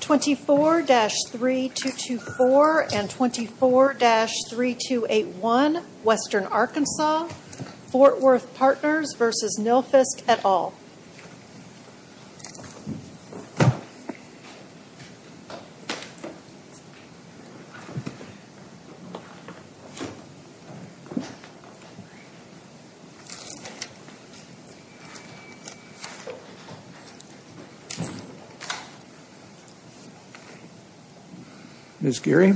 24-3224 and 24-3281, Western Arkansas, Fort Worth Partners v. Nilfisk, et al. Good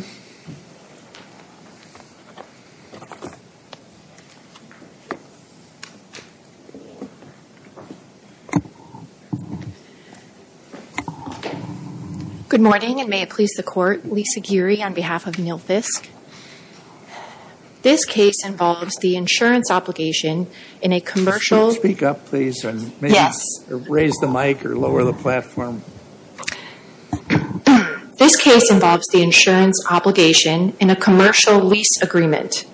morning and may it please the Court, Lisa Geary on behalf of Nilfisk. This case involves the insurance obligation in a commercial lease agreement.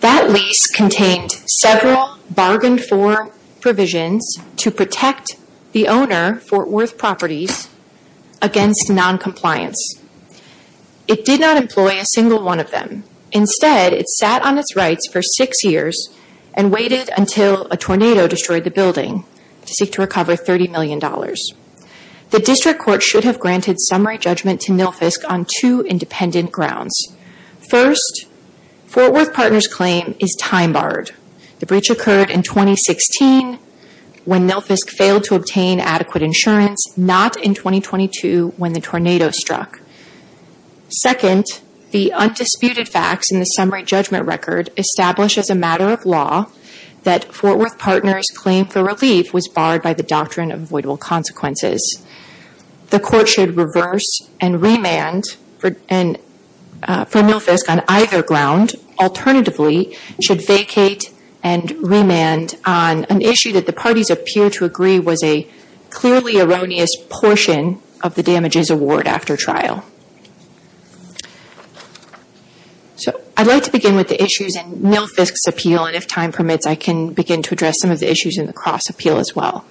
That lease contained several bargained-for provisions to protect the owner, Fort Worth Properties, against noncompliance. It did not employ a single one of them. Instead, it sat on its rights for six years and waited until a tornado destroyed the building to seek to recover $30 million. The District Court should have granted summary judgment to Nilfisk on two independent grounds. First, Fort Worth Partners' claim is time-barred. The breach occurred in 2016 when Nilfisk failed to obtain adequate insurance, not in 2022 when the tornado struck. Second, the undisputed facts in the summary judgment record establish as a matter of law that Fort Worth Partners' claim for relief was barred by the Doctrine of Avoidable Consequences. The Court should reverse and remand for Nilfisk on either ground. Alternatively, it should vacate and remand on an issue that the parties appear to agree was a clearly erroneous portion of the damages award after trial. I'd like to begin with the issues in Nilfisk's appeal, and if time permits, I can begin to address some of the issues in the Cross appeal as well.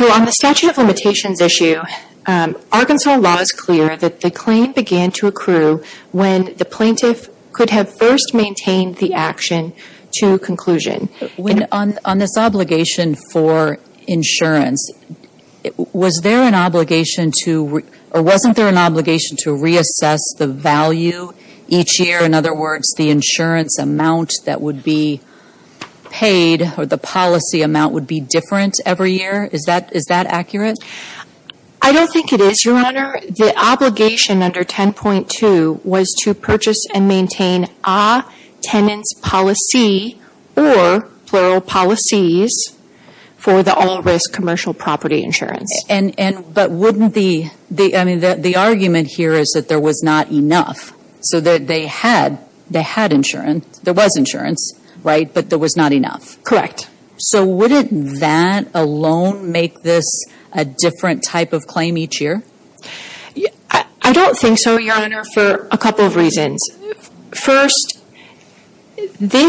On the statute of limitations issue, Arkansas law is clear that the claim began to accrue when the plaintiff could have first maintained the action to conclusion. On this obligation for insurance, wasn't there an obligation to reassess the value each year? In other words, the insurance amount that would be paid or the policy amount would be different every year? Is that accurate? I don't think it is, Your Honor. The obligation under 10.2 was to purchase and maintain a tenant's policy or plural policies for the all-risk commercial property insurance. The argument here is that there was not enough, so they had insurance. There was insurance, but there was not enough. Correct. So wouldn't that alone make this a different type of claim each year? I don't think so, Your Honor, for a couple of reasons. First, the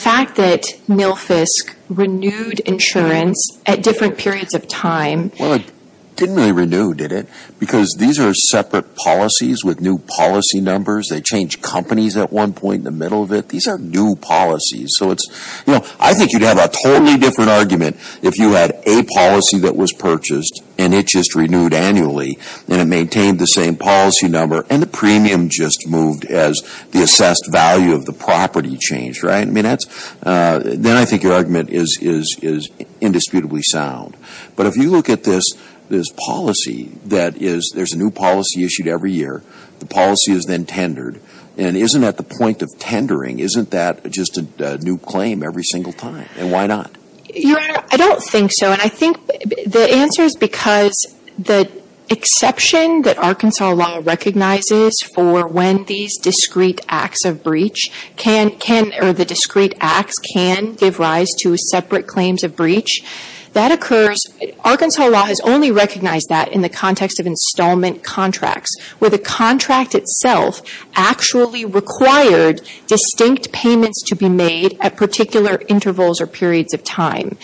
fact that Nilfisk renewed insurance at different periods of time… Well, it didn't really renew, did it? Because these are separate policies with new policy numbers. They changed companies at one point in the middle of it. These are new policies. I think you'd have a totally different argument if you had a policy that was purchased and it just renewed annually and it maintained the same policy number and the premium just moved as the assessed value of the property changed. Then I think your argument is indisputably sound. But if you look at this policy, there's a new policy issued every year. The policy is then tendered. And isn't that the point of tendering? Isn't that just a new claim every single time? And why not? Your Honor, I don't think so. And I think the answer is because the exception that Arkansas law recognizes for when these discrete acts of breach can or the discrete acts can give rise to separate claims of breach, that occurs. Arkansas law has only recognized that in the context of installment contracts, where the contract itself actually required distinct payments to be made at particular intervals or periods of time.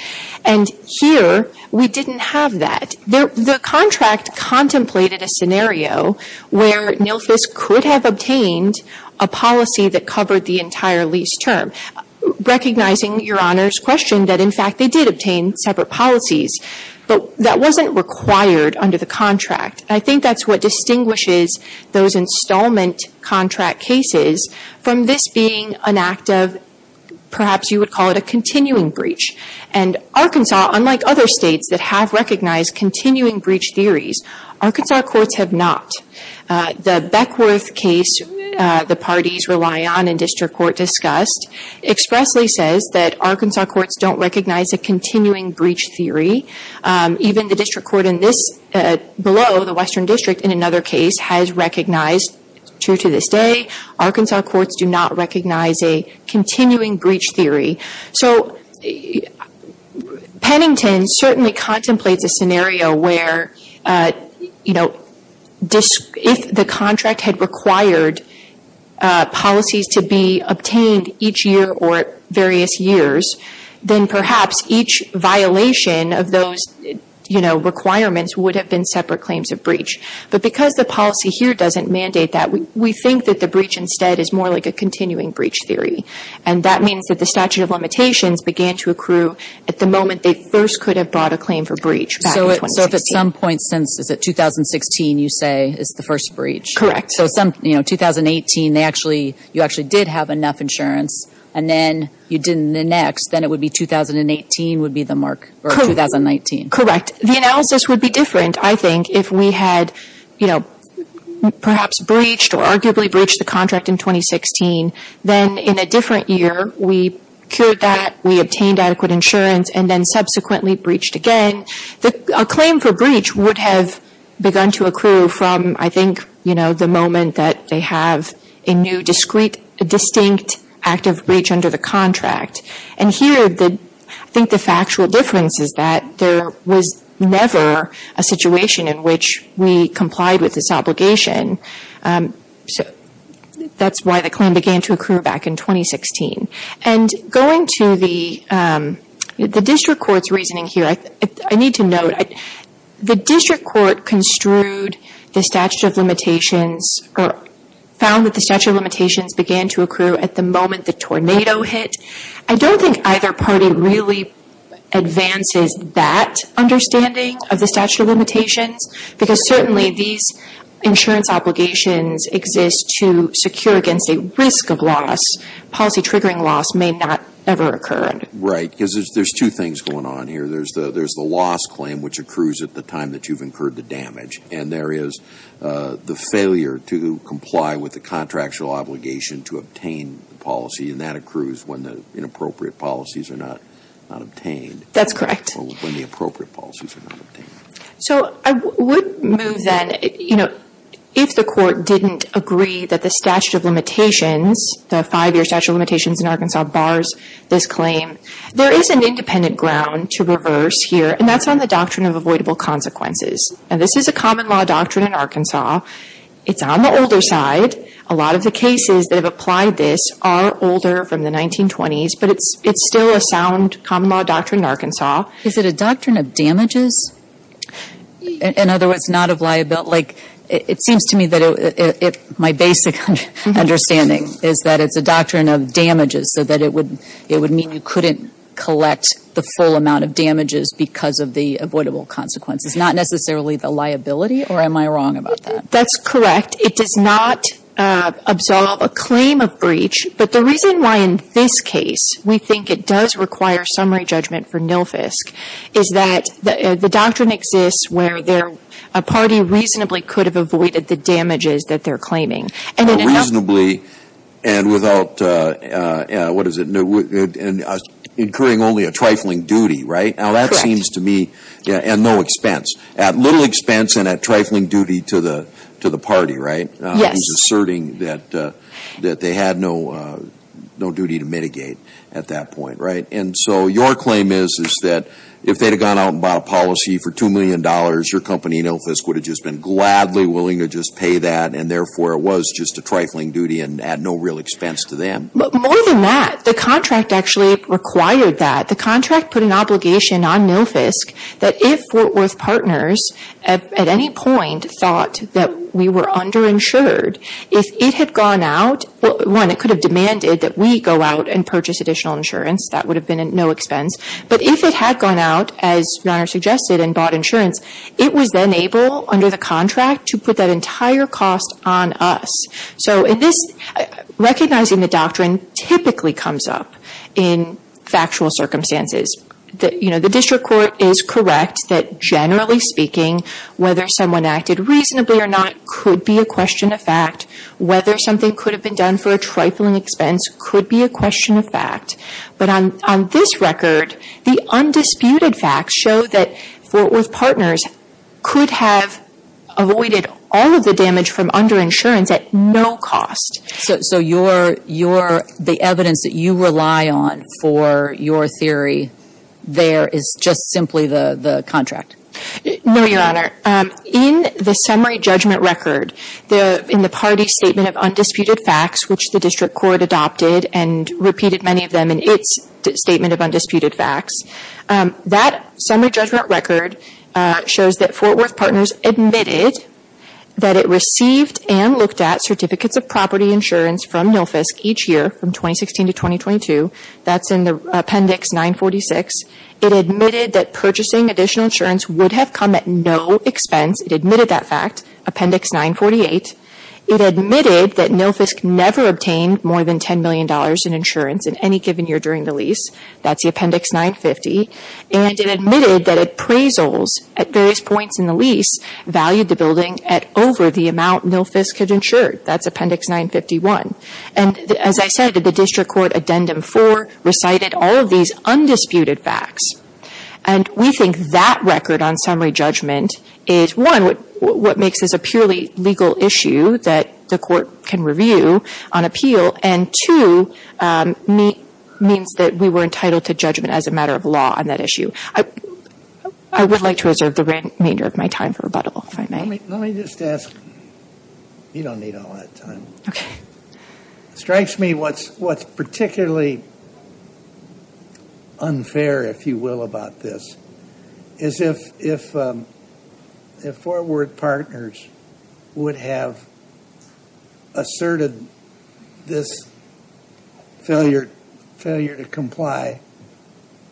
And here, we didn't have that. The contract contemplated a scenario where NILFIS could have obtained a policy that covered the entire lease term, recognizing, Your Honor's question, that, in fact, they did obtain separate policies. But that wasn't required under the contract. I think that's what distinguishes those installment contract cases from this being an act of perhaps you would call it a continuing breach. And Arkansas, unlike other states that have recognized continuing breach theories, Arkansas courts have not. The Beckworth case the parties rely on in district court discussed expressly says that Arkansas courts don't recognize a continuing breach theory. Even the district court below the Western District in another case has recognized, true to this day, Arkansas courts do not recognize a continuing breach theory. So Pennington certainly contemplates a scenario where, you know, if the contract had required policies to be obtained each year or various years, then perhaps each violation of those, you know, requirements would have been separate claims of breach. But because the policy here doesn't mandate that, we think that the breach instead is more like a continuing breach theory. And that means that the statute of limitations began to accrue at the moment they first could have brought a claim for breach back in 2016. So if at some point since, is it 2016, you say, is the first breach? Correct. So some, you know, 2018, they actually, you actually did have enough insurance, and then you didn't in the next, then it would be 2018 would be the mark, or 2019. Correct. The analysis would be different, I think, if we had, you know, perhaps breached or arguably breached the contract in 2016. Then in a different year, we cured that, we obtained adequate insurance, and then subsequently breached again. A claim for breach would have begun to accrue from, I think, you know, the moment that they have a new distinct act of breach under the contract. And here, I think the factual difference is that there was never a situation in which we complied with this obligation. So that's why the claim began to accrue back in 2016. And going to the district court's reasoning here, I need to note, the district court construed the statute of limitations, or found that the statute of limitations began to accrue at the moment the tornado hit. I don't think either party really advances that understanding of the statute of limitations, because certainly these insurance obligations exist to secure against a risk of loss. Policy triggering loss may not ever occur. Right, because there's two things going on here. There's the loss claim, which accrues at the time that you've incurred the damage, and there is the failure to comply with the contractual obligation to obtain the policy, and that accrues when the inappropriate policies are not obtained. That's correct. Or when the appropriate policies are not obtained. So I would move then, you know, if the court didn't agree that the statute of limitations, the five-year statute of limitations in Arkansas bars this claim, there is an independent ground to reverse here, and that's on the doctrine of avoidable consequences. And this is a common law doctrine in Arkansas. It's on the older side. A lot of the cases that have applied this are older, from the 1920s, but it's still a sound common law doctrine in Arkansas. Is it a doctrine of damages? In other words, not of liability. It seems to me that my basic understanding is that it's a doctrine of damages, so that it would mean you couldn't collect the full amount of damages because of the avoidable consequences. Not necessarily the liability, or am I wrong about that? That's correct. It does not absolve a claim of breach. But the reason why in this case we think it does require summary judgment for NILFSC is that the doctrine exists where a party reasonably could have avoided the damages that they're claiming. Reasonably and without, what is it, incurring only a trifling duty, right? Correct. Now that seems to me, and no expense, at little expense and at trifling duty to the party, right? Yes. Because it's asserting that they had no duty to mitigate at that point, right? And so your claim is that if they had gone out and bought a policy for $2 million, your company, NILFSC, would have just been gladly willing to just pay that, and therefore it was just a trifling duty and at no real expense to them. But more than that, the contract actually required that. The contract put an obligation on NILFSC that if Fort Worth Partners at any point thought that we were underinsured, if it had gone out, one, it could have demanded that we go out and purchase additional insurance. That would have been at no expense. But if it had gone out, as Your Honor suggested, and bought insurance, it was then able under the contract to put that entire cost on us. So in this, recognizing the doctrine typically comes up in factual circumstances. You know, the district court is correct that generally speaking, whether someone acted reasonably or not could be a question of fact. Whether something could have been done for a trifling expense could be a question of fact. But on this record, the undisputed facts show that Fort Worth Partners could have avoided all of the damage from underinsurance at no cost. So your – the evidence that you rely on for your theory there is just simply the contract? No, Your Honor. In the summary judgment record, in the party's statement of undisputed facts, which the district court adopted and repeated many of them in its statement of undisputed facts, that summary judgment record shows that Fort Worth Partners admitted that it received and looked at certificates of property insurance from NILFSC each year from 2016 to 2022. That's in Appendix 946. It admitted that purchasing additional insurance would have come at no expense. It admitted that fact, Appendix 948. It admitted that NILFSC never obtained more than $10 million in insurance in any given year during the lease. That's the Appendix 950. And it admitted that appraisals at various points in the lease valued the building at over the amount NILFSC had insured. That's Appendix 951. And as I said, the district court Addendum 4 recited all of these undisputed facts. And we think that record on summary judgment is, one, what makes this a purely legal issue that the court can review on appeal, and, two, means that we were entitled to judgment as a matter of law on that issue. I would like to reserve the remainder of my time for rebuttal, if I may. Let me just ask. You don't need all that time. It strikes me what's particularly unfair, if you will, about this, is if Forward Partners would have asserted this failure to comply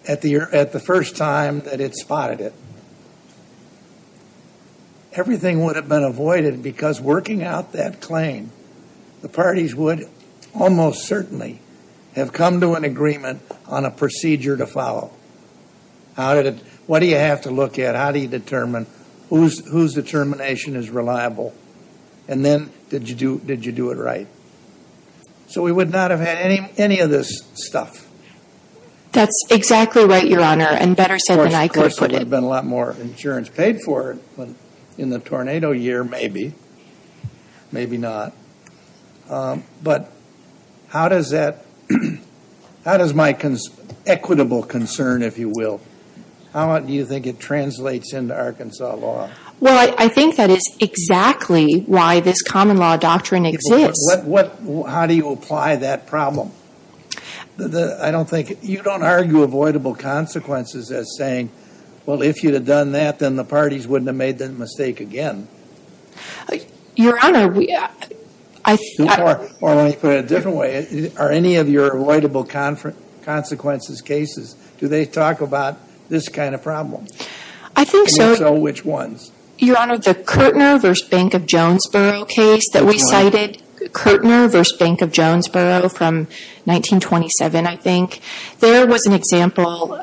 at the first time that it spotted it. Everything would have been avoided, because working out that claim, the parties would almost certainly have come to an agreement on a procedure to follow. What do you have to look at? How do you determine whose determination is reliable? And then, did you do it right? So we would not have had any of this stuff. That's exactly right, Your Honor, and better said than I could put it. There would have been a lot more insurance paid for in the tornado year, maybe. Maybe not. But how does my equitable concern, if you will, how do you think it translates into Arkansas law? Well, I think that is exactly why this common law doctrine exists. How do you apply that problem? You don't argue avoidable consequences as saying, well, if you had done that, then the parties wouldn't have made that mistake again. Your Honor, I think so. Or let me put it a different way. Are any of your avoidable consequences cases, do they talk about this kind of problem? I think so. And if so, which ones? Your Honor, the Kirtner v. Bank of Jonesboro case that we cited, Kirtner v. Bank of Jonesboro from 1927, I think, there was an example,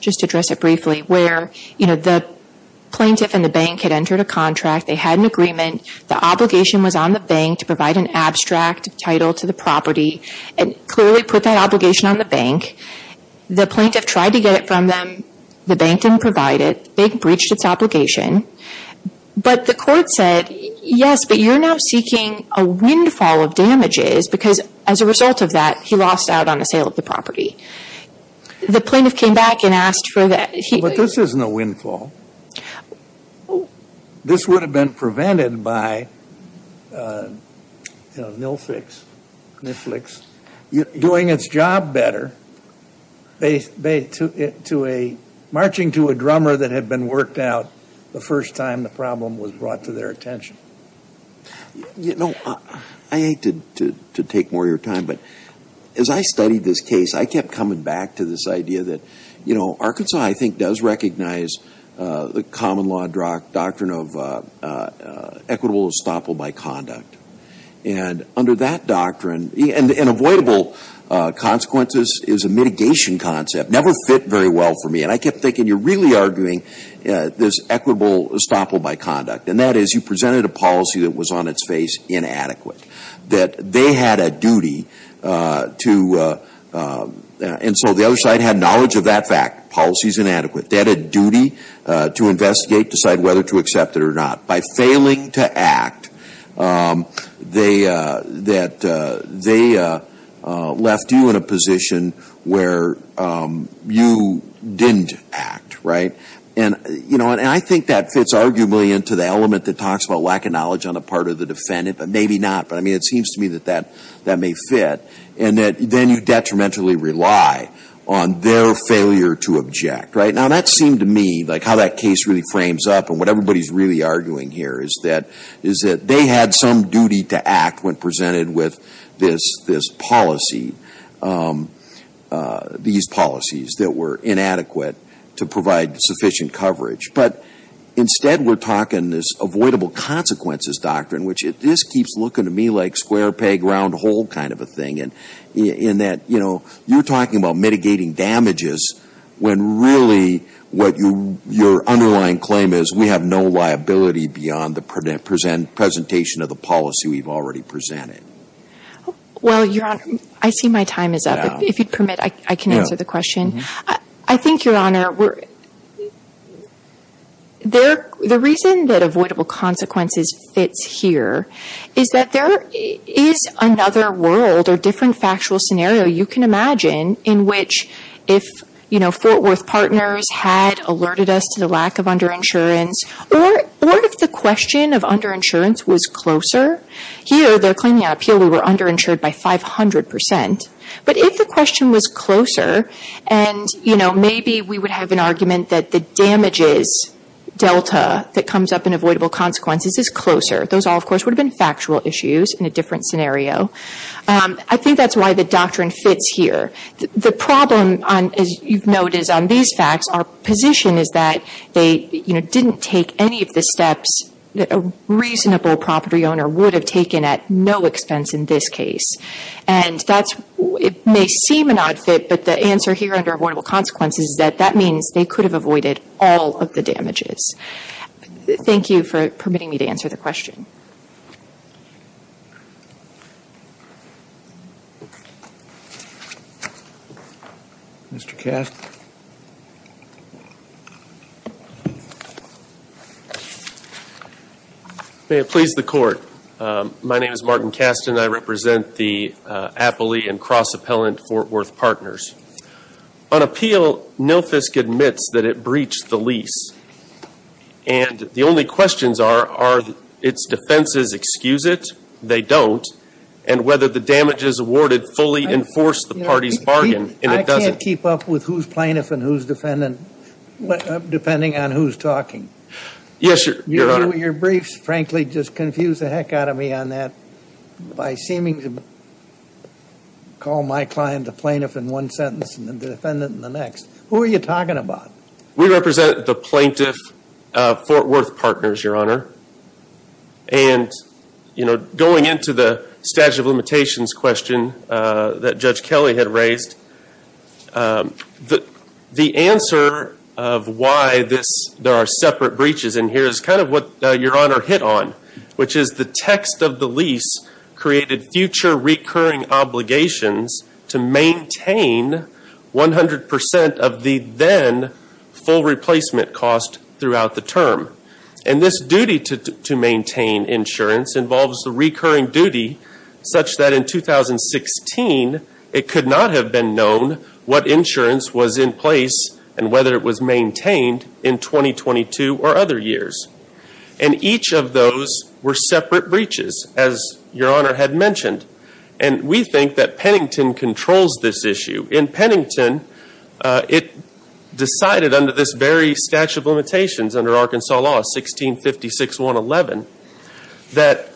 just to address it briefly, where the plaintiff and the bank had entered a contract. They had an agreement. The obligation was on the bank to provide an abstract title to the property and clearly put that obligation on the bank. The plaintiff tried to get it from them. The bank didn't provide it. The bank breached its obligation. But the court said, yes, but you're now seeking a windfall of damages because as a result of that, he lost out on the sale of the property. The plaintiff came back and asked for that. But this isn't a windfall. This would have been prevented by NILFIX doing its job better. They took it to a marching to a drummer that had been worked out the first time the problem was brought to their attention. You know, I hate to take more of your time, but as I studied this case, I kept coming back to this idea that, you know, Arkansas I think does recognize the common law doctrine of equitable estoppel by conduct. And under that doctrine, and avoidable consequences is a mitigation concept, never fit very well for me. And I kept thinking you're really arguing this equitable estoppel by conduct. And that is you presented a policy that was on its face inadequate, that they had a duty to, and so the other side had knowledge of that fact, policy is inadequate. They had a duty to investigate, decide whether to accept it or not. By failing to act, they left you in a position where you didn't act, right? And, you know, and I think that fits arguably into the element that talks about lack of knowledge on the part of the defendant, but maybe not. But, I mean, it seems to me that that may fit. And that then you detrimentally rely on their failure to object, right? Now, that seemed to me like how that case really frames up and what everybody is really arguing here is that they had some duty to act when presented with this policy, these policies that were inadequate to provide sufficient coverage. But instead we're talking this avoidable consequences doctrine, which this keeps looking to me like square peg round hole kind of a thing. In that, you know, you're talking about mitigating damages when really what your underlying claim is we have no liability beyond the presentation of the policy we've already presented. Well, Your Honor, I see my time is up. If you'd permit, I can answer the question. I think, Your Honor, the reason that avoidable consequences fits here is that there is another world or different factual scenario you can imagine in which if, you know, Fort Worth partners had alerted us to the lack of underinsurance, or if the question of underinsurance was closer. Here they're claiming on appeal we were underinsured by 500%. But if the question was closer and, you know, maybe we would have an argument that the damages delta that comes up in avoidable consequences is closer. Those all, of course, would have been factual issues in a different scenario. I think that's why the doctrine fits here. The problem, as you've noticed, on these facts, our position is that they, you know, didn't take any of the steps that a reasonable property owner would have taken at no expense in this case. And that's, it may seem an odd fit, but the answer here under avoidable consequences is that that means they could have avoided all of the damages. Thank you for permitting me to answer the question. Mr. Kastin. May it please the Court. My name is Martin Kastin. I represent the Appley and Cross Appellant Fort Worth Partners. On appeal, NILFSC admits that it breached the lease. And the only questions are, are its defenses excuse it? They don't. And whether the damages awarded fully enforce the party's bargain. And it doesn't. I can't keep up with who's plaintiff and who's defendant, depending on who's talking. Yes, Your Honor. Your briefs, frankly, just confuse the heck out of me on that by seeming to call my client the plaintiff in one sentence and the defendant in the next. Who are you talking about? We represent the plaintiff, Fort Worth Partners, Your Honor. And, you know, going into the statute of limitations question that Judge Kelly had raised, the answer of why there are separate breaches in here is kind of what Your Honor hit on, which is the text of the lease created future recurring obligations to maintain 100% of the then full replacement cost throughout the term. And this duty to maintain insurance involves the recurring duty such that in 2016, it could not have been known what insurance was in place and whether it was maintained in 2022 or other years. And each of those were separate breaches, as Your Honor had mentioned. And we think that Pennington controls this issue. In Pennington, it decided under this very statute of limitations under Arkansas law, 1656.111, that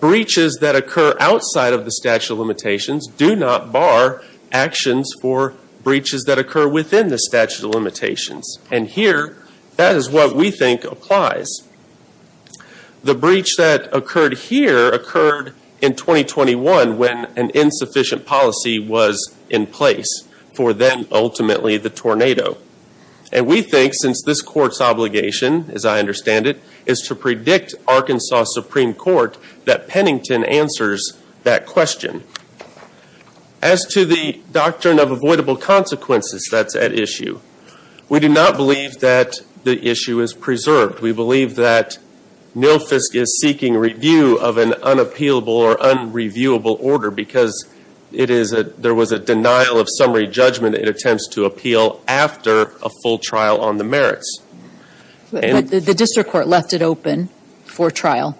breaches that occur outside of the statute of limitations do not bar actions for breaches that occur within the statute of limitations. And here, that is what we think applies. The breach that occurred here occurred in 2021 when an insufficient policy was in place for then ultimately the tornado. And we think since this court's obligation, as I understand it, is to predict Arkansas Supreme Court that Pennington answers that question. As to the doctrine of avoidable consequences that's at issue, we do not believe that the issue is preserved. We believe that NILFSC is seeking review of an unappealable or unreviewable order because there was a denial of summary judgment in attempts to appeal after a full trial on the merits. But the district court left it open for trial,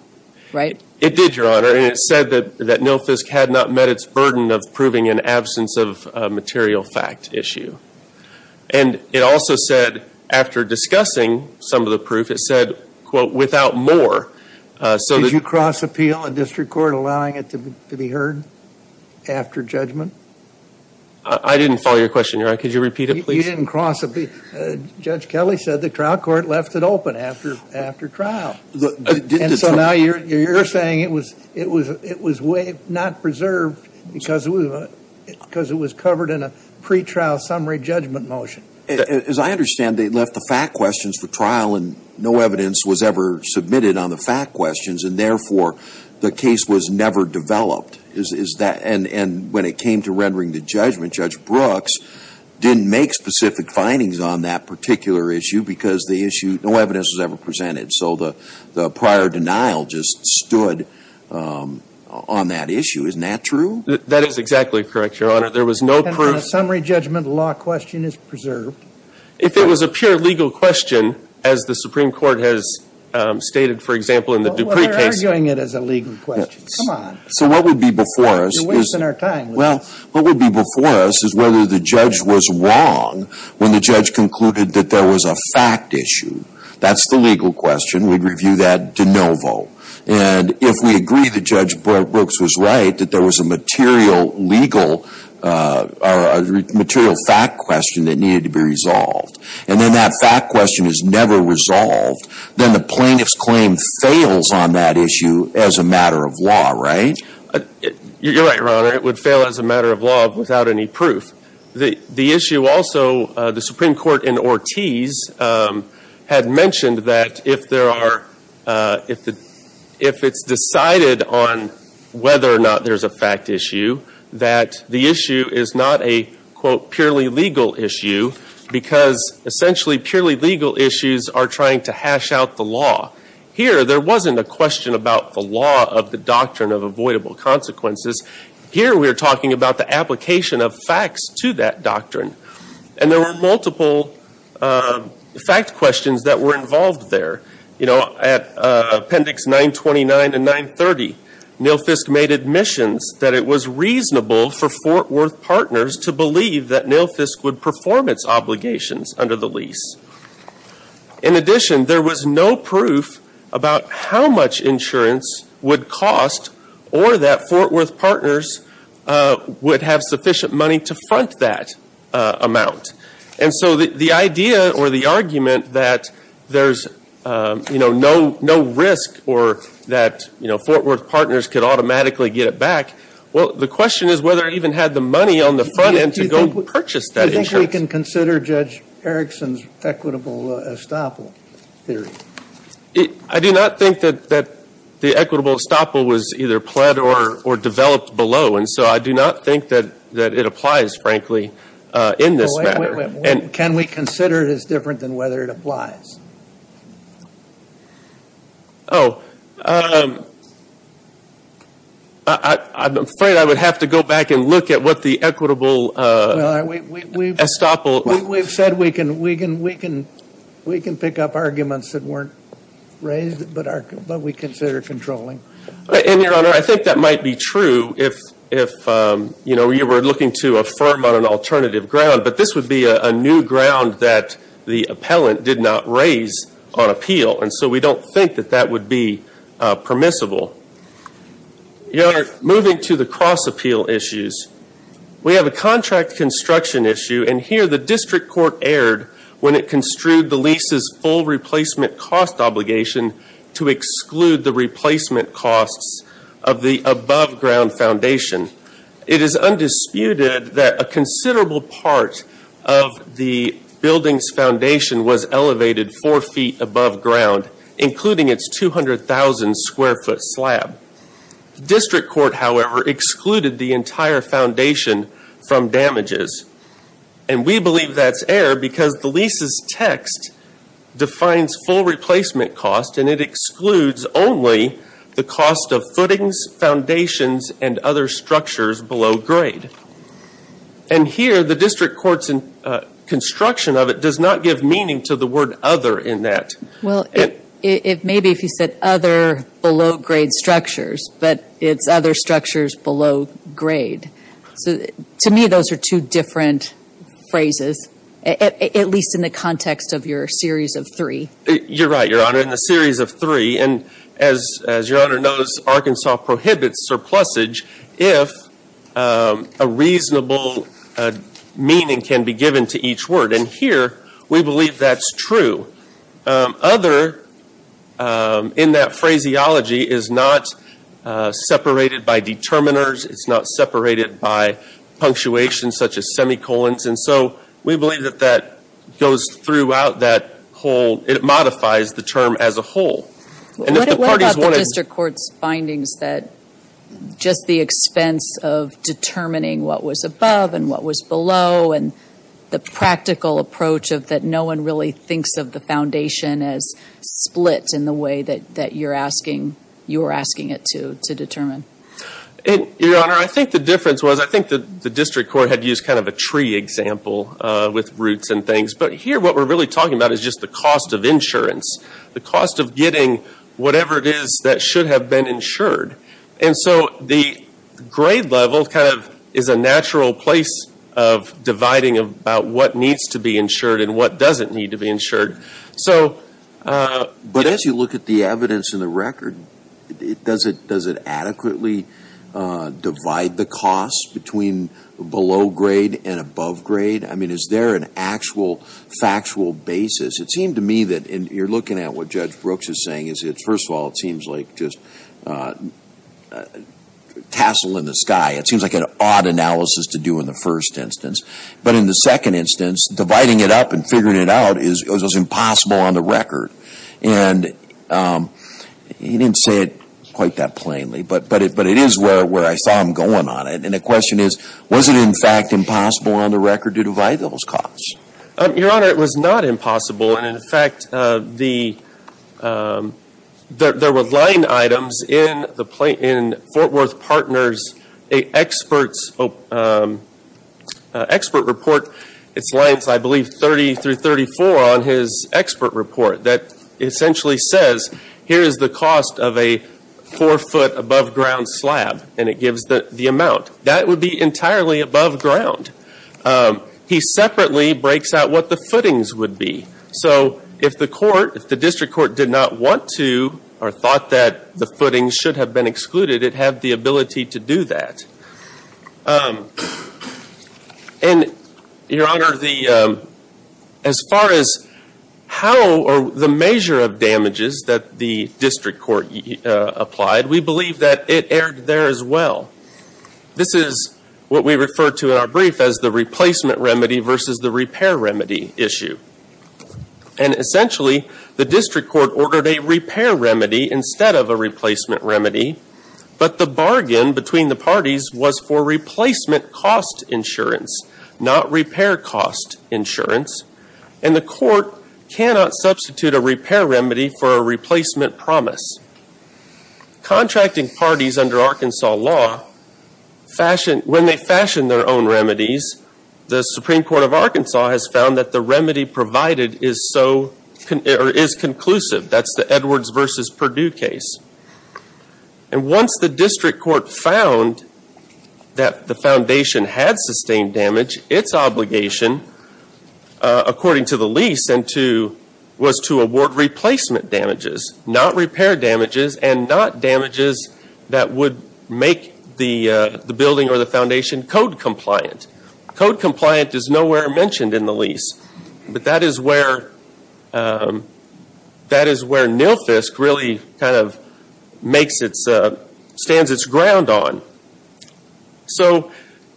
right? It did, Your Honor. And it said that NILFSC had not met its burden of proving an absence of material fact issue. And it also said, after discussing some of the proof, it said, quote, without more. Did you cross-appeal a district court allowing it to be heard after judgment? I didn't follow your question, Your Honor. Could you repeat it, please? You didn't cross-appeal. Judge Kelly said the trial court left it open after trial. And so now you're saying it was not preserved because it was covered in a pretrial summary judgment motion. As I understand, they left the fact questions for trial, and no evidence was ever submitted on the fact questions, and therefore the case was never developed. And when it came to rendering the judgment, Judge Brooks didn't make specific findings on that particular issue because no evidence was ever presented. So the prior denial just stood on that issue. Isn't that true? That is exactly correct, Your Honor. There was no proof. And on a summary judgment, the law question is preserved. If it was a pure legal question, as the Supreme Court has stated, for example, in the Dupree case. Well, they're arguing it as a legal question. Come on. So what would be before us is whether the judge was wrong when the judge concluded that there was a fact issue. That's the legal question. We'd review that de novo. And if we agree that Judge Brooks was right, that there was a material legal or material fact question that needed to be resolved, and then that fact question is never resolved, then the plaintiff's claim fails on that issue as a matter of law, right? You're right, Your Honor. It would fail as a matter of law without any proof. The issue also, the Supreme Court in Ortiz had mentioned that if it's decided on whether or not there's a fact issue, that the issue is not a, quote, purely legal issue because essentially purely legal issues are trying to hash out the law. Here, there wasn't a question about the law of the doctrine of avoidable consequences. Here, we're talking about the application of facts to that doctrine. And there were multiple fact questions that were involved there. You know, at Appendix 929 and 930, Nilfisk made admissions that it was reasonable for Fort Worth Partners to believe that Nilfisk would perform its obligations under the lease. In addition, there was no proof about how much insurance would cost or that Fort Worth Partners would have sufficient money to front that amount. And so the idea or the argument that there's, you know, no risk or that, you know, Fort Worth Partners could automatically get it back, well, the question is whether it even had the money on the front end to go purchase that insurance. Can we consider Judge Erickson's equitable estoppel theory? I do not think that the equitable estoppel was either pled or developed below. And so I do not think that it applies, frankly, in this matter. Can we consider it as different than whether it applies? Oh, I'm afraid I would have to go back and look at what the equitable estoppel theory is. Well, we've said we can pick up arguments that weren't raised, but we consider controlling. And, Your Honor, I think that might be true if, you know, you were looking to affirm on an alternative ground. But this would be a new ground that the appellant did not raise on appeal. And so we don't think that that would be permissible. Your Honor, moving to the cross-appeal issues, we have a contract construction issue, and here the district court erred when it construed the lease's full replacement cost obligation to exclude the replacement costs of the above-ground foundation. It is undisputed that a considerable part of the building's foundation was elevated four feet above ground, including its 200,000-square-foot slab. The district court, however, excluded the entire foundation from damages. And we believe that's error because the lease's text defines full replacement cost, and it excludes only the cost of footings, foundations, and other structures below grade. And here the district court's construction of it does not give meaning to the word other in that. Well, it may be if you said other below-grade structures, but it's other structures below grade. So to me those are two different phrases, at least in the context of your series of three. You're right, Your Honor. In the series of three, and as Your Honor knows, Arkansas prohibits surplusage if a reasonable meaning can be given to each word. And here we believe that's true. Other in that phraseology is not separated by determiners. It's not separated by punctuation such as semicolons. And so we believe that that goes throughout that whole – it modifies the term as a whole. What about the district court's findings that just the expense of determining what was above and what was below and the practical approach of that no one really thinks of the foundation as split in the way that you're asking it to determine? Your Honor, I think the difference was I think the district court had used kind of a tree example with roots and things. But here what we're really talking about is just the cost of insurance, the cost of getting whatever it is that should have been insured. And so the grade level kind of is a natural place of dividing about what needs to be insured and what doesn't need to be insured. But as you look at the evidence in the record, does it adequately divide the cost between below grade and above grade? I mean, is there an actual factual basis? It seemed to me that, and you're looking at what Judge Brooks is saying, is first of all it seems like just a tassel in the sky. It seems like an odd analysis to do in the first instance. But in the second instance, dividing it up and figuring it out was impossible on the record. And he didn't say it quite that plainly, but it is where I saw him going on it. And the question is, was it in fact impossible on the record to divide those costs? Your Honor, it was not impossible. And, in fact, there were line items in Fort Worth Partners' expert report. It's lines, I believe, 30 through 34 on his expert report that essentially says, here is the cost of a four-foot above ground slab, and it gives the amount. That would be entirely above ground. He separately breaks out what the footings would be. So if the district court did not want to or thought that the footings should have been excluded, it had the ability to do that. And, Your Honor, as far as how or the measure of damages that the district court applied, we believe that it erred there as well. This is what we refer to in our brief as the replacement remedy versus the repair remedy issue. And, essentially, the district court ordered a repair remedy instead of a replacement remedy. But the bargain between the parties was for replacement cost insurance, not repair cost insurance. And the court cannot substitute a repair remedy for a replacement promise. Contracting parties under Arkansas law, when they fashion their own remedies, the Supreme Court of Arkansas has found that the remedy provided is conclusive. That's the Edwards versus Perdue case. And once the district court found that the foundation had sustained damage, its obligation, according to the lease, was to award replacement damages, not repair damages and not damages that would make the building or the foundation code compliant. Code compliant is nowhere mentioned in the lease. But that is where Nilfisk really kind of stands its ground on. So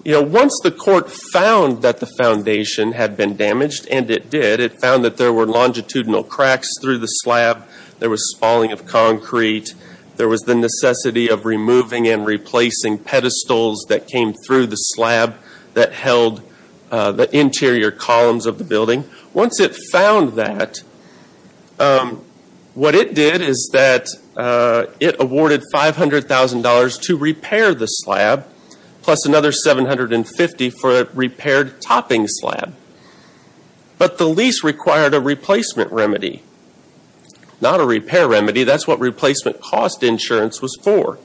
once the court found that the foundation had been damaged, and it did, it found that there were longitudinal cracks through the slab, there was spalling of concrete, there was the necessity of removing and replacing pedestals that came through the slab that held the interior columns of the building. Once it found that, what it did is that it awarded $500,000 to repair the slab, plus another $750,000 for a repaired topping slab. But the lease required a replacement remedy, not a repair remedy. That's what replacement cost insurance was for.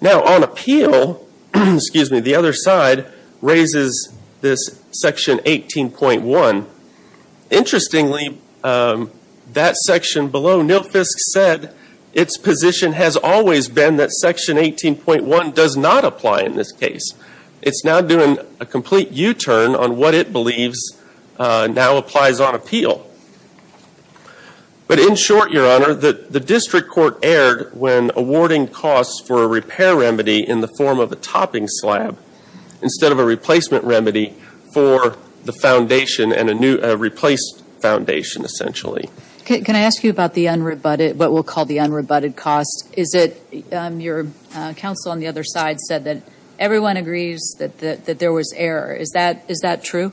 Now, on appeal, the other side raises this section 18.1. Interestingly, that section below Nilfisk said its position has always been that section 18.1 does not apply in this case. It's now doing a complete U-turn on what it believes now applies on appeal. But in short, Your Honor, the district court erred when awarding costs for a repair remedy in the form of a topping slab, instead of a replacement remedy for the foundation and a replaced foundation, essentially. Can I ask you about what we'll call the unrebutted cost? Your counsel on the other side said that everyone agrees that there was error. Is that true?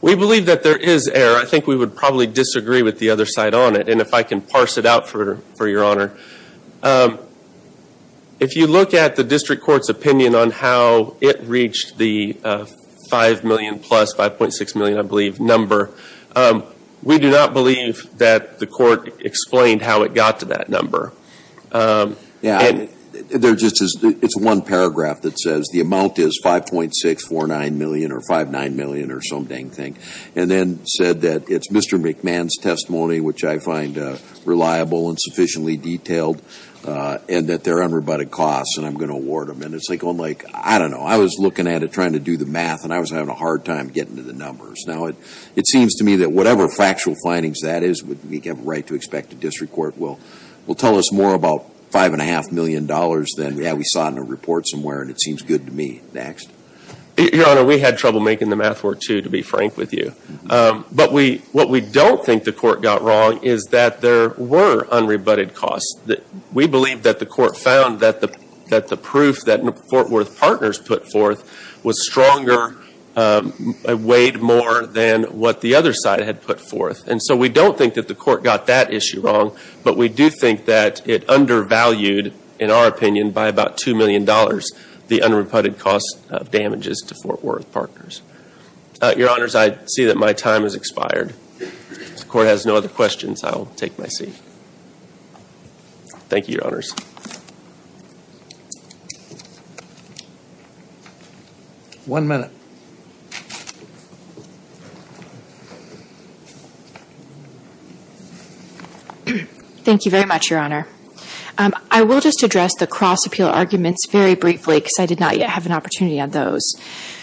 We believe that there is error. I think we would probably disagree with the other side on it, and if I can parse it out for Your Honor, if you look at the district court's opinion on how it reached the $5 million plus, $5.6 million, I believe, number, we do not believe that the court explained how it got to that number. It's one paragraph that says the amount is $5.6, $4.9 million, or $5.9 million, or some dang thing, and then said that it's Mr. McMahon's testimony, which I find reliable and sufficiently detailed, and that there are unrebutted costs and I'm going to award them. And it's like, I don't know, I was looking at it trying to do the math, and I was having a hard time getting to the numbers. Now, it seems to me that whatever factual findings that is, we have a right to expect the district court will tell us more about $5.5 million than we saw in a report somewhere, and it seems good to me. Next. Your Honor, we had trouble making the math work, too, to be frank with you. But what we don't think the court got wrong is that there were unrebutted costs. We believe that the court found that the proof that Fort Worth Partners put forth was stronger, weighed more than what the other side had put forth. And so we don't think that the court got that issue wrong, but we do think that it undervalued, in our opinion, by about $2 million, the unrebutted cost of damages to Fort Worth Partners. Your Honors, I see that my time has expired. If the court has no other questions, I will take my seat. Thank you, Your Honors. One minute. Thank you very much, Your Honor. I will just address the cross-appeal arguments very briefly, because I did not yet have an opportunity on those.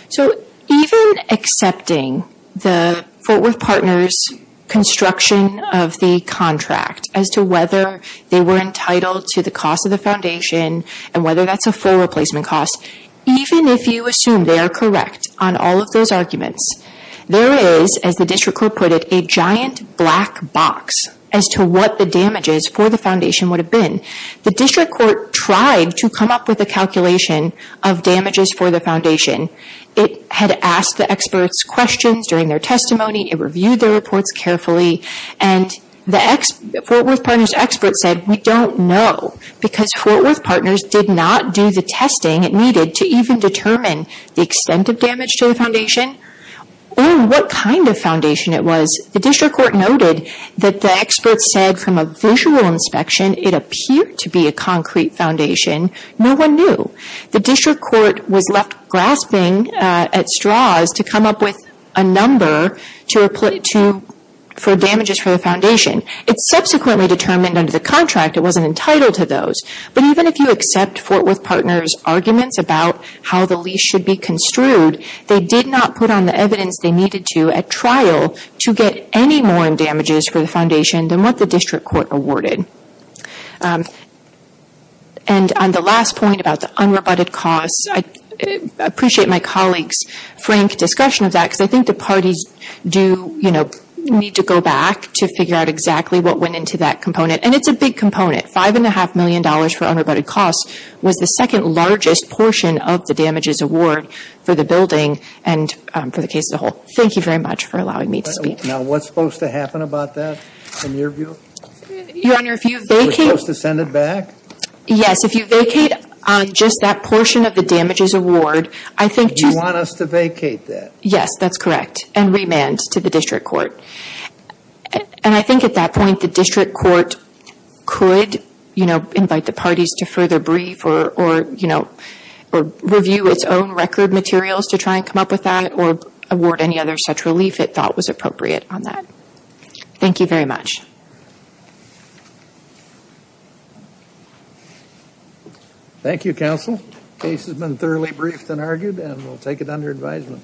So even accepting the Fort Worth Partners' construction of the contract, as to whether they were entitled to the cost of the foundation, and whether that's a full replacement cost, even if you assume they are correct on all of those arguments, there is, as the district court put it, a giant black box as to what the damages for the foundation would have been. The district court tried to come up with a calculation of damages for the foundation. It had asked the experts questions during their testimony. It reviewed their reports carefully. And the Fort Worth Partners' experts said, we don't know, because Fort Worth Partners did not do the testing it needed to even determine the extent of damage to the foundation, or what kind of foundation it was. The district court noted that the experts said, from a visual inspection, it appeared to be a concrete foundation. No one knew. The district court was left grasping at straws to come up with a number for damages for the foundation. It subsequently determined under the contract it wasn't entitled to those. But even if you accept Fort Worth Partners' arguments about how the lease should be construed, they did not put on the evidence they needed to at trial to get any more damages for the foundation than what the district court awarded. And on the last point about the unrebutted costs, I appreciate my colleague's frank discussion of that, because I think the parties do need to go back to figure out exactly what went into that component. And it's a big component. Five and a half million dollars for unrebutted costs was the second largest portion of the damages award for the building and for the case as a whole. Thank you very much for allowing me to speak. Now, what's supposed to happen about that, in your view? Your Honor, if you vacate We're supposed to send it back? Yes, if you vacate just that portion of the damages award, I think just You want us to vacate that? Yes, that's correct. And remand to the district court. And I think at that point the district court could, you know, invite the parties to further brief or, you know, review its own record materials to try and come up with that or award any other such relief it thought was appropriate on that. Thank you very much. Thank you, counsel. The case has been thoroughly briefed and argued, and we'll take it under advisement.